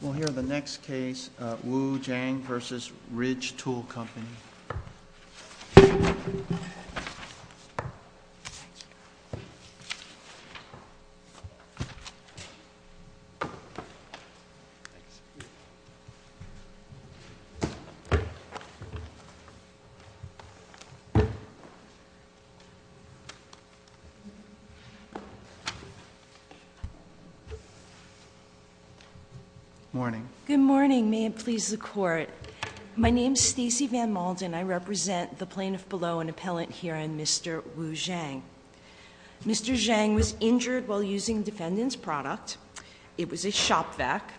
We'll hear the next case, Wu Zhang v. Ridge Tool Company. Good morning. Good morning. May it please the Court. My name is Stacey Van Malden. I represent the plaintiff below, an appellant herein, Mr. Wu Zhang. Mr. Zhang was injured while using defendant's product. It was a shop vac.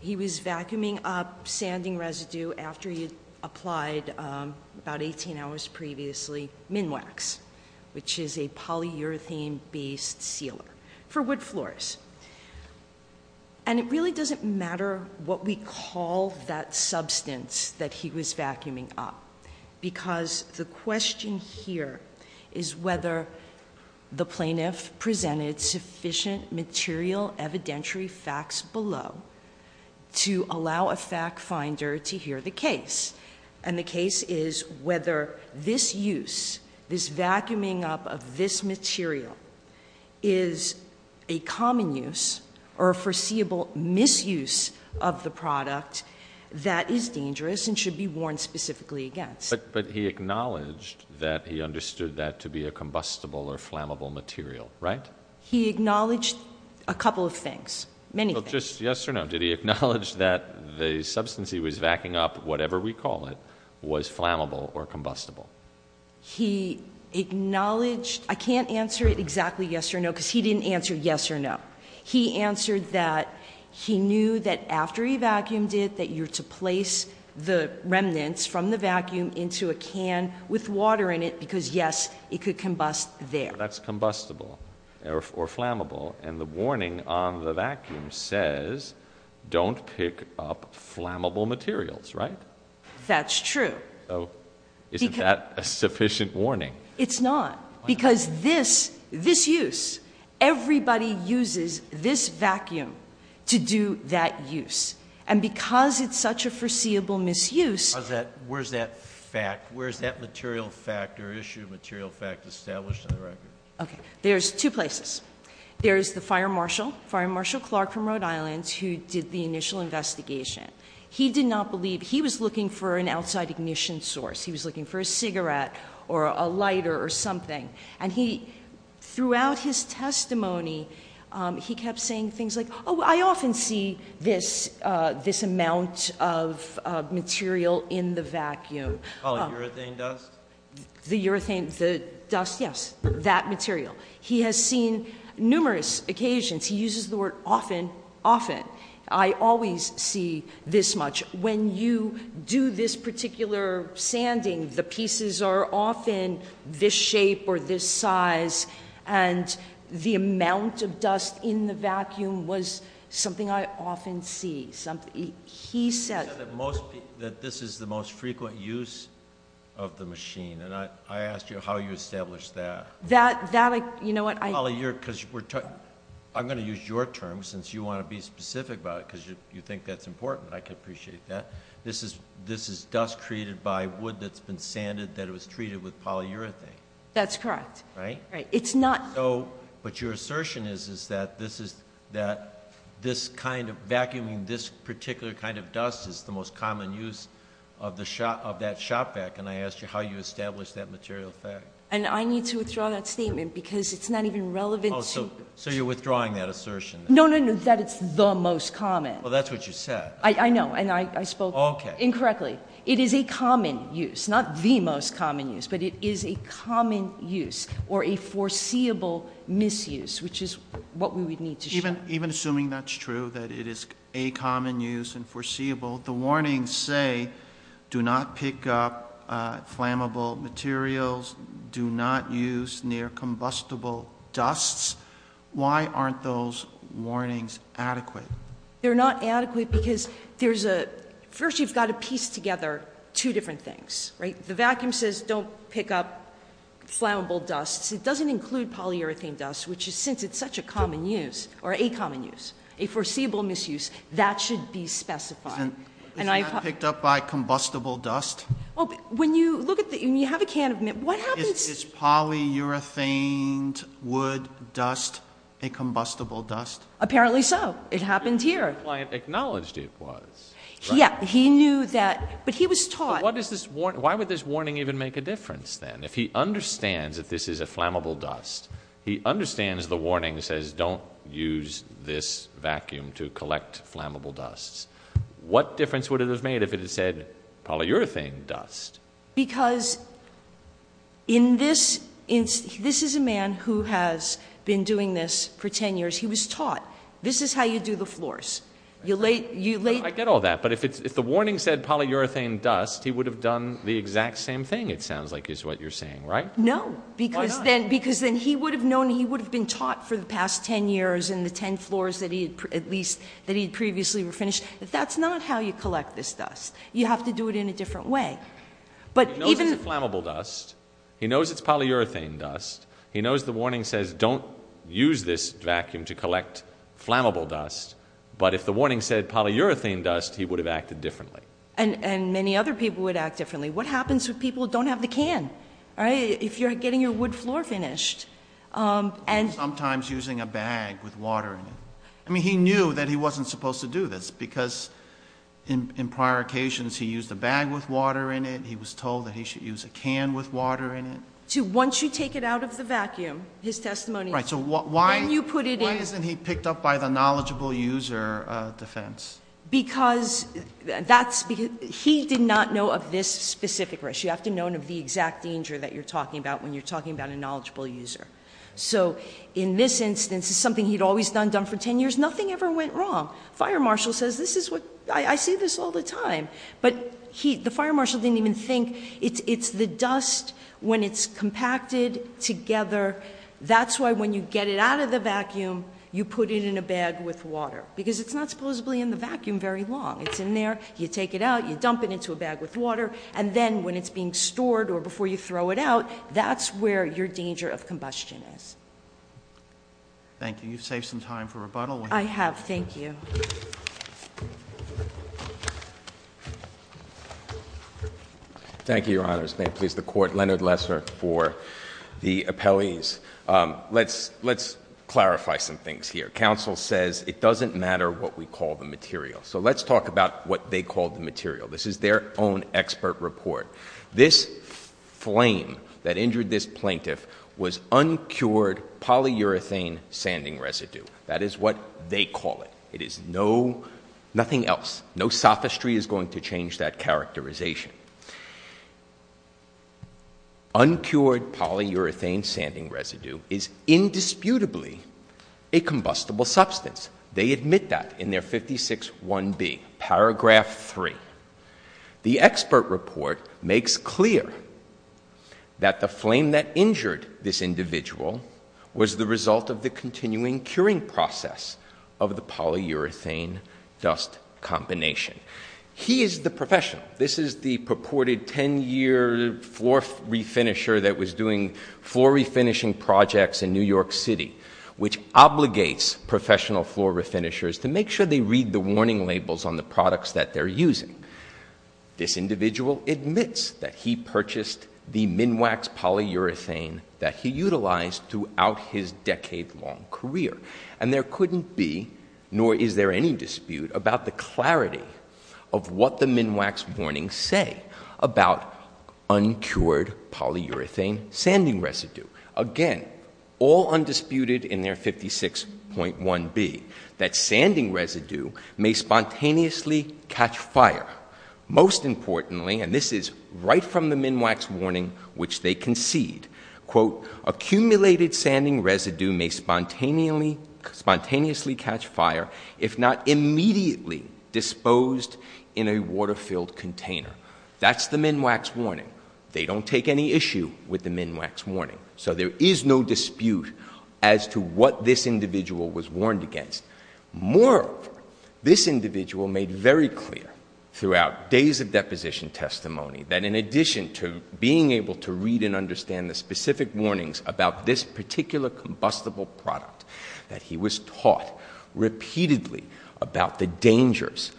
He was vacuuming up sanding residue after he applied, about 18 hours previously, Minwax, which is a polyurethane-based sealer for wood floors. And it really doesn't matter what we call that substance that he was vacuuming up, because the question here is whether the plaintiff presented sufficient material evidentiary facts below to allow a fact finder to hear the case. And the case is whether this use, this vacuuming up of this material is a common use or a foreseeable misuse of the product that is dangerous and should be warned specifically against. But he acknowledged that he understood that to be a combustible or flammable material, right? He acknowledged a couple of things, many things. Well, just yes or no. Did he acknowledge that the substance he was vacuuming up, whatever we call it, was flammable or combustible? He acknowledged, I can't answer exactly yes or no, because he didn't answer yes or no. He answered that he knew that after he vacuumed it, that you're to place the remnants from the vacuum into a can with water in it, because yes, it could combust there. So that's combustible or flammable, and the warning on the vacuum says don't pick up flammable materials, right? That's true. So isn't that a sufficient warning? It's not, because this use, everybody uses this vacuum to do that use. And because it's such a foreseeable misuse. Where's that fact, where's that material fact or issue of material fact established on the record? Okay, there's two places. There's the fire marshal, Fire Marshal Clark from Rhode Island, who did the initial investigation. He did not believe, he was looking for an outside ignition source. He was looking for a cigarette or a lighter or something. And he, throughout his testimony, he kept saying things like, oh, I often see this amount of material in the vacuum. Polyurethane dust? The urethane, the dust, yes, that material. He has seen numerous occasions, he uses the word often, often. I always see this much. When you do this particular sanding, the pieces are often this shape or this size. And the amount of dust in the vacuum was something I often see. He said that this is the most frequent use of the machine. And I asked you how you established that. That, you know what? I'm going to use your terms, since you want to be specific about it, because you think that's important. I can appreciate that. This is dust created by wood that's been sanded, that was treated with polyurethane. That's correct. Right? Right. But your assertion is that this kind of vacuuming, this particular kind of dust is the most common use of that shop vac. And I asked you how you established that material fact. And I need to withdraw that statement because it's not even relevant. So you're withdrawing that assertion? No, no, no, that it's the most common. Well, that's what you said. I know. And I spoke incorrectly. It is a common use, not the most common use. But it is a common use or a foreseeable misuse, which is what we would need to show. And even assuming that's true, that it is a common use and foreseeable, the warnings say do not pick up flammable materials, do not use near combustible dusts. Why aren't those warnings adequate? They're not adequate because there's a, first you've got to piece together two different things. Right? The vacuum says don't pick up flammable dusts. It doesn't include polyurethane dust, which is since it's such a common use or a common use, a foreseeable misuse, that should be specified. Isn't that picked up by combustible dust? Well, when you look at the, when you have a can of, what happens? Is polyurethane wood dust a combustible dust? Apparently so. It happened here. Your client acknowledged it was. Yeah. He knew that, but he was taught. Why would this warning even make a difference then? If he understands that this is a flammable dust, he understands the warning says don't use this vacuum to collect flammable dusts. What difference would it have made if it had said polyurethane dust? Because in this, this is a man who has been doing this for ten years. He was taught this is how you do the floors. You lay. I get all that. But if the warning said polyurethane dust, he would have done the exact same thing, it sounds like is what you're saying, right? No. Because then he would have known, he would have been taught for the past ten years in the ten floors that he had previously finished. That's not how you collect this dust. You have to do it in a different way. He knows it's a flammable dust. He knows it's polyurethane dust. He knows the warning says don't use this vacuum to collect flammable dust. But if the warning said polyurethane dust, he would have acted differently. And many other people would act differently. What happens when people don't have the can? If you're getting your wood floor finished. Sometimes using a bag with water in it. I mean, he knew that he wasn't supposed to do this because in prior occasions he used a bag with water in it. He was told that he should use a can with water in it. Once you take it out of the vacuum, his testimony. Then you put it in. Why isn't he picked up by the knowledgeable user defense? Because he did not know of this specific risk. You have to know of the exact danger that you're talking about when you're talking about a knowledgeable user. So in this instance, it's something he'd always done, done for ten years. Nothing ever went wrong. Fire marshal says this is what, I see this all the time. But the fire marshal didn't even think, it's the dust when it's compacted together. That's why when you get it out of the vacuum, you put it in a bag with water. Because it's not supposedly in the vacuum very long. It's in there. You take it out. You dump it into a bag with water. And then when it's being stored or before you throw it out, that's where your danger of combustion is. Thank you. You've saved some time for rebuttal. I have. Thank you. Thank you, your honors. May it please the court. Leonard Lesser for the appellees. Let's clarify some things here. Counsel says it doesn't matter what we call the material. So let's talk about what they called the material. This is their own expert report. This flame that injured this plaintiff was uncured polyurethane sanding residue. That is what they call it. It is no, nothing else. No sophistry is going to change that characterization. Uncured polyurethane sanding residue is indisputably a combustible substance. They admit that in their 56-1B, paragraph 3. The expert report makes clear that the flame that injured this individual was the result of the continuing curing process of the polyurethane dust combination. He is the professional. This is the purported 10-year floor refinisher that was doing floor refinishing projects in New York City, which obligates professional floor refinishers to make sure they read the warning labels on the products that they're using. This individual admits that he purchased the Minwax polyurethane that he utilized throughout his decade-long career. And there couldn't be, nor is there any dispute, about the clarity of what the Minwax warnings say about uncured polyurethane sanding residue. Again, all undisputed in their 56.1B, that sanding residue may spontaneously catch fire. Most importantly, and this is right from the Minwax warning which they concede, quote, accumulated sanding residue may spontaneously catch fire if not immediately disposed in a water-filled container. That's the Minwax warning. They don't take any issue with the Minwax warning. So there is no dispute as to what this individual was warned against. Moreover, this individual made very clear throughout days of deposition testimony that in addition to being able to read and understand the specific warnings about this particular combustible product, that he was taught repeatedly about the dangers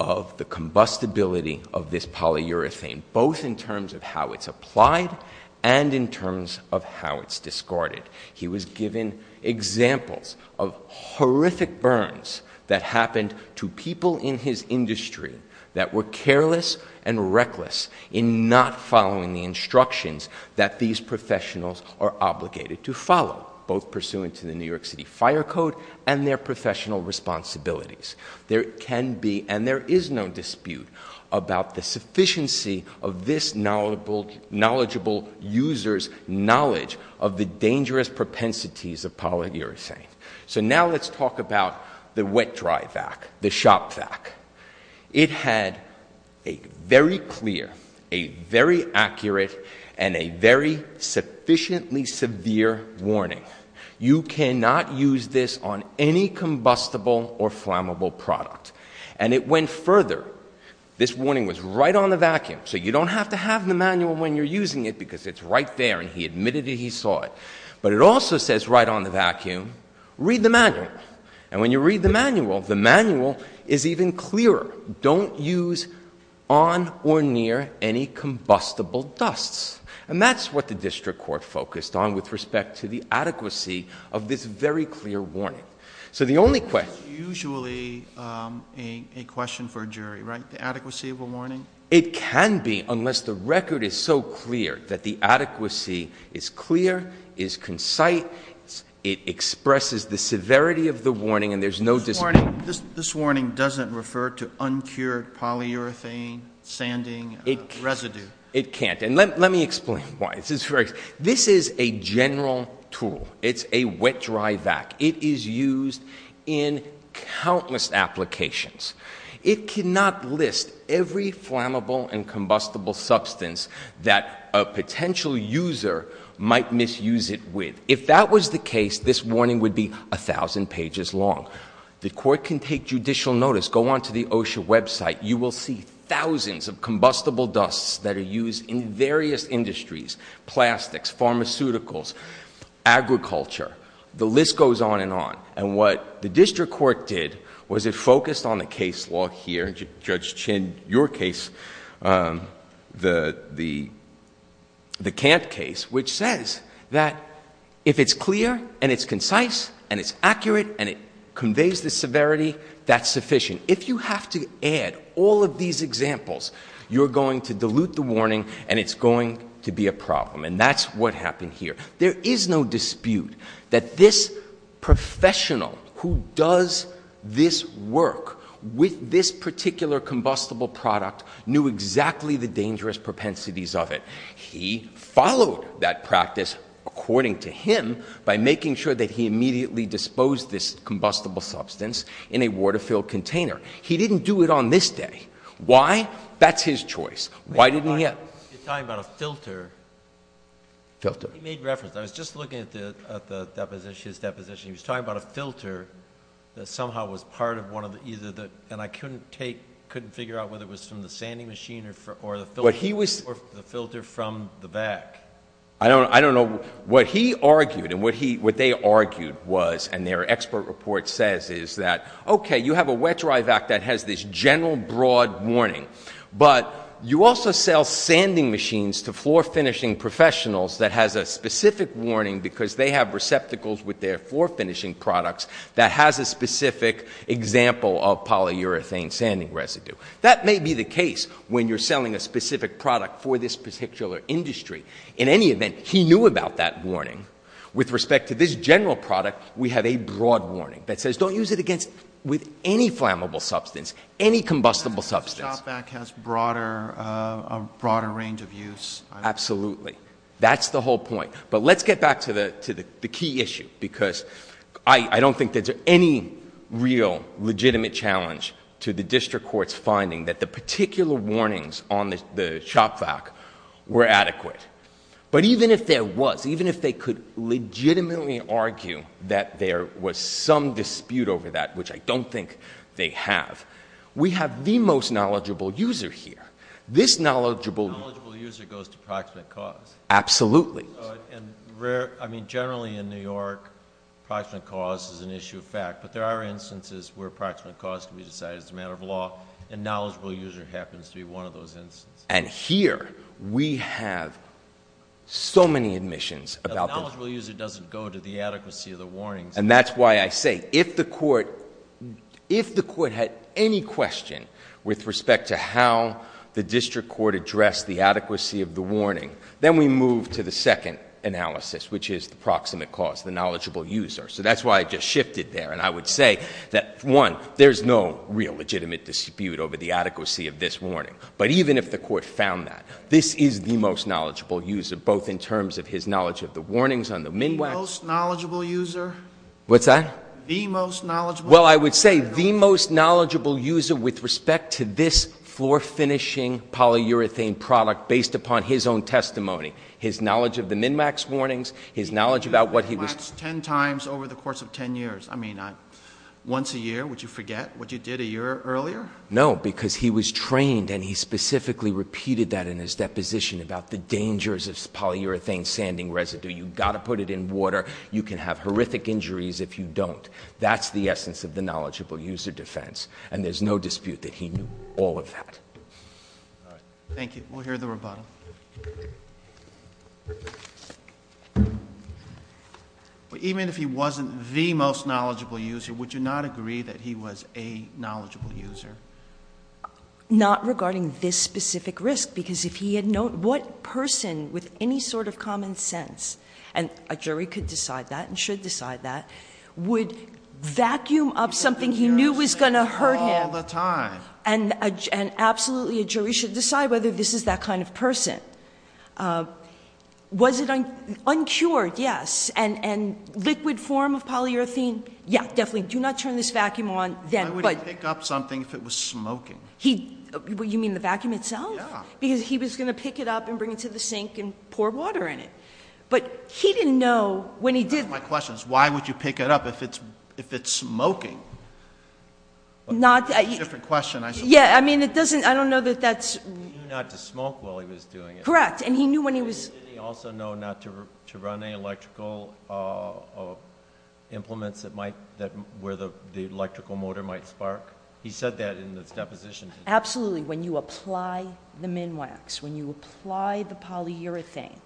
of the combustibility of this polyurethane, both in terms of how it's applied and in terms of how it's discarded. He was given examples of horrific burns that happened to people in his industry that were careless and reckless in not following the instructions that these professionals are obligated to follow, both pursuant to the New York City Fire Code and their professional responsibilities. There can be and there is no dispute about the sufficiency of this knowledgeable user's knowledge of the dangerous propensities of polyurethane. So now let's talk about the wet-dry vac, the shop vac. It had a very clear, a very accurate, and a very sufficiently severe warning. You cannot use this on any combustible or flammable product. And it went further. This warning was right on the vacuum, so you don't have to have the manual when you're using it because it's right there and he admitted that he saw it. But it also says right on the vacuum, read the manual. And when you read the manual, the manual is even clearer. Don't use on or near any combustible dusts. And that's what the district court focused on with respect to the adequacy of this very clear warning. So the only question... It's usually a question for a jury, right, the adequacy of a warning? It can be unless the record is so clear that the adequacy is clear, is concise, it expresses the severity of the warning and there's no dispute. This warning doesn't refer to uncured polyurethane sanding residue. It can't. And let me explain why. This is a general tool. It's a wet-dry vac. It is used in countless applications. It cannot list every flammable and combustible substance that a potential user might misuse it with. If that was the case, this warning would be 1,000 pages long. The court can take judicial notice, go onto the OSHA website, you will see thousands of combustible dusts that are used in various industries, plastics, pharmaceuticals, agriculture. The list goes on and on. And what the district court did was it focused on the case law here, Judge Chin, your case, the Kant case, which says that if it's clear and it's concise and it's accurate and it conveys the severity, that's sufficient. If you have to add all of these examples, you're going to dilute the warning and it's going to be a problem. And that's what happened here. There is no dispute that this professional who does this work with this particular combustible product knew exactly the dangerous propensities of it. He followed that practice, according to him, by making sure that he immediately disposed this combustible substance in a water-filled container. He didn't do it on this day. Why? That's his choice. Why didn't he? You're talking about a filter. Filter. He made reference. I was just looking at the deposition, his deposition. He was talking about a filter that somehow was part of one of either the, and I couldn't figure out whether it was from the sanding machine or the filter from the vac. I don't know. What he argued and what they argued was, and their expert report says, is that, okay, you have a wet-drive act that has this general broad warning, but you also sell sanding machines to floor-finishing professionals that has a specific warning because they have receptacles with their floor-finishing products that has a specific example of polyurethane sanding residue. That may be the case when you're selling a specific product for this particular industry. In any event, he knew about that warning. With respect to this general product, we have a broad warning that says, don't use it against, with any flammable substance, any combustible substance. The shop vac has a broader range of use. Absolutely. That's the whole point. But let's get back to the key issue because I don't think there's any real legitimate challenge to the district court's finding that the particular warnings on the shop vac were adequate. But even if there was, even if they could legitimately argue that there was some dispute over that, which I don't think they have, we have the most knowledgeable user here. This knowledgeable user goes to proximate cause. Absolutely. I mean, generally in New York, proximate cause is an issue of fact, but there are instances where proximate cause can be decided as a matter of law, and knowledgeable user happens to be one of those instances. And here, we have so many admissions. A knowledgeable user doesn't go to the adequacy of the warnings. And that's why I say, if the court had any question with respect to how the district court addressed the adequacy of the warning, then we move to the second analysis, which is the proximate cause, the knowledgeable user. So that's why I just shifted there. And I would say that, one, there's no real legitimate dispute over the adequacy of this warning. But even if the court found that, this is the most knowledgeable user, both in terms of his knowledge of the warnings on the MNWAC. The most knowledgeable user? What's that? The most knowledgeable? Well, I would say the most knowledgeable user with respect to this floor-finishing polyurethane product based upon his own testimony, his knowledge of the MNWAC's warnings, his knowledge about what he was MNWAC's 10 times over the course of 10 years. I mean, once a year, would you forget what you did a year earlier? No, because he was trained and he specifically repeated that in his deposition about the dangers of polyurethane sanding residue. You've got to put it in water. You can have horrific injuries if you don't. That's the essence of the knowledgeable user defense. And there's no dispute that he knew all of that. All right. Thank you. We'll hear the rebuttal. Even if he wasn't the most knowledgeable user, would you not agree that he was a knowledgeable user? Not regarding this specific risk, because if he had known what person with any sort of common sense, and a jury could decide that and should decide that, would vacuum up something he knew was going to hurt him. All the time. And absolutely a jury should decide whether this is that kind of person. Was it uncured? Yes. And liquid form of polyurethane? Yeah, definitely. Do not turn this vacuum on then. Why would he pick up something if it was smoking? You mean the vacuum itself? Yeah. Because he was going to pick it up and bring it to the sink and pour water in it. But he didn't know when he did that. One of my questions, why would you pick it up if it's smoking? It's a different question. Yeah, I mean, it doesn't, I don't know that that's. He knew not to smoke while he was doing it. Correct. And he knew when he was. Did he also know not to run any electrical implements that might, where the electrical motor might spark? He said that in his deposition. Absolutely. When you apply the Minwax, when you apply the polyurethane,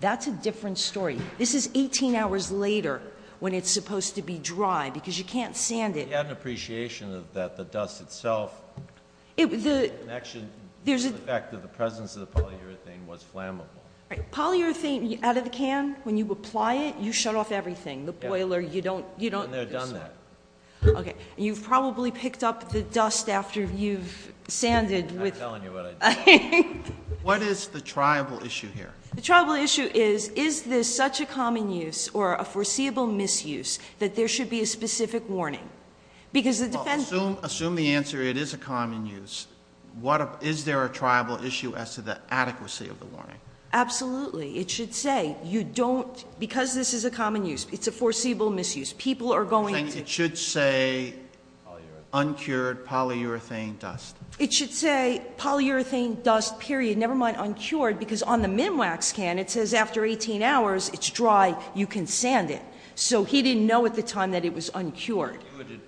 that's a different story. This is 18 hours later when it's supposed to be dry, because you can't sand it. He had an appreciation of that, the dust itself. Actually, there's. The fact that the presence of the polyurethane was flammable. Right, polyurethane, out of the can, when you apply it, you shut off everything. The boiler, you don't. And they're done that. Okay, and you've probably picked up the dust after you've sanded. I'm telling you what I did. What is the tribal issue here? The tribal issue is, is this such a common use or a foreseeable misuse that there should be a specific warning? Because the defense. Assume the answer, it is a common use. Is there a tribal issue as to the adequacy of the warning? Absolutely. It should say, you don't, because this is a common use, it's a foreseeable misuse. People are going to. It should say uncured polyurethane dust. It should say polyurethane dust, period, never mind uncured. Because on the Minwax can, it says after 18 hours, it's dry, you can sand it. So he didn't know at the time that it was uncured.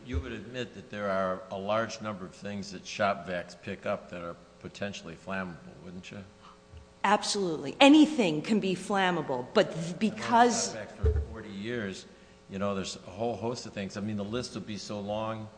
You would admit that there are a large number of things that shop vacs pick up that are potentially flammable, wouldn't you? Absolutely. Anything can be flammable, but because. 40 years, there's a whole host of things. I mean, the list would be so long.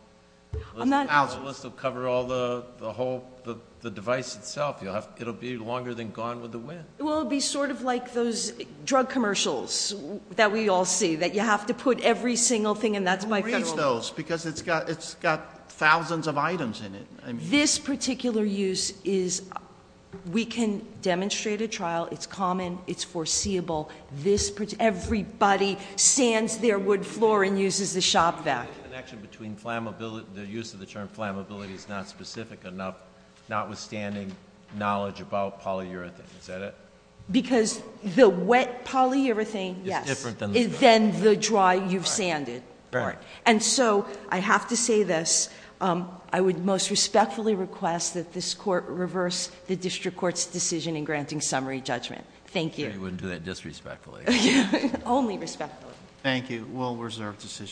The list will cover all the whole, the device itself. It will be longer than gone with the wind. It will be sort of like those drug commercials that we all see. That you have to put every single thing, and that's by federal law. Because it's got thousands of items in it. This particular use is, we can demonstrate a trial. It's common. It's foreseeable. Everybody sands their wood floor and uses the shop vac. The connection between the use of the term flammability is not specific enough, notwithstanding knowledge about polyurethane. Is that it? Because the wet polyurethane, yes. It's different than the dry. Than the dry you've sanded. Right. And so, I have to say this. I would most respectfully request that this court reverse the district court's decision in granting summary judgment. Thank you. You wouldn't do that disrespectfully. Only respectfully. Thank you. It was a well-reserved decision.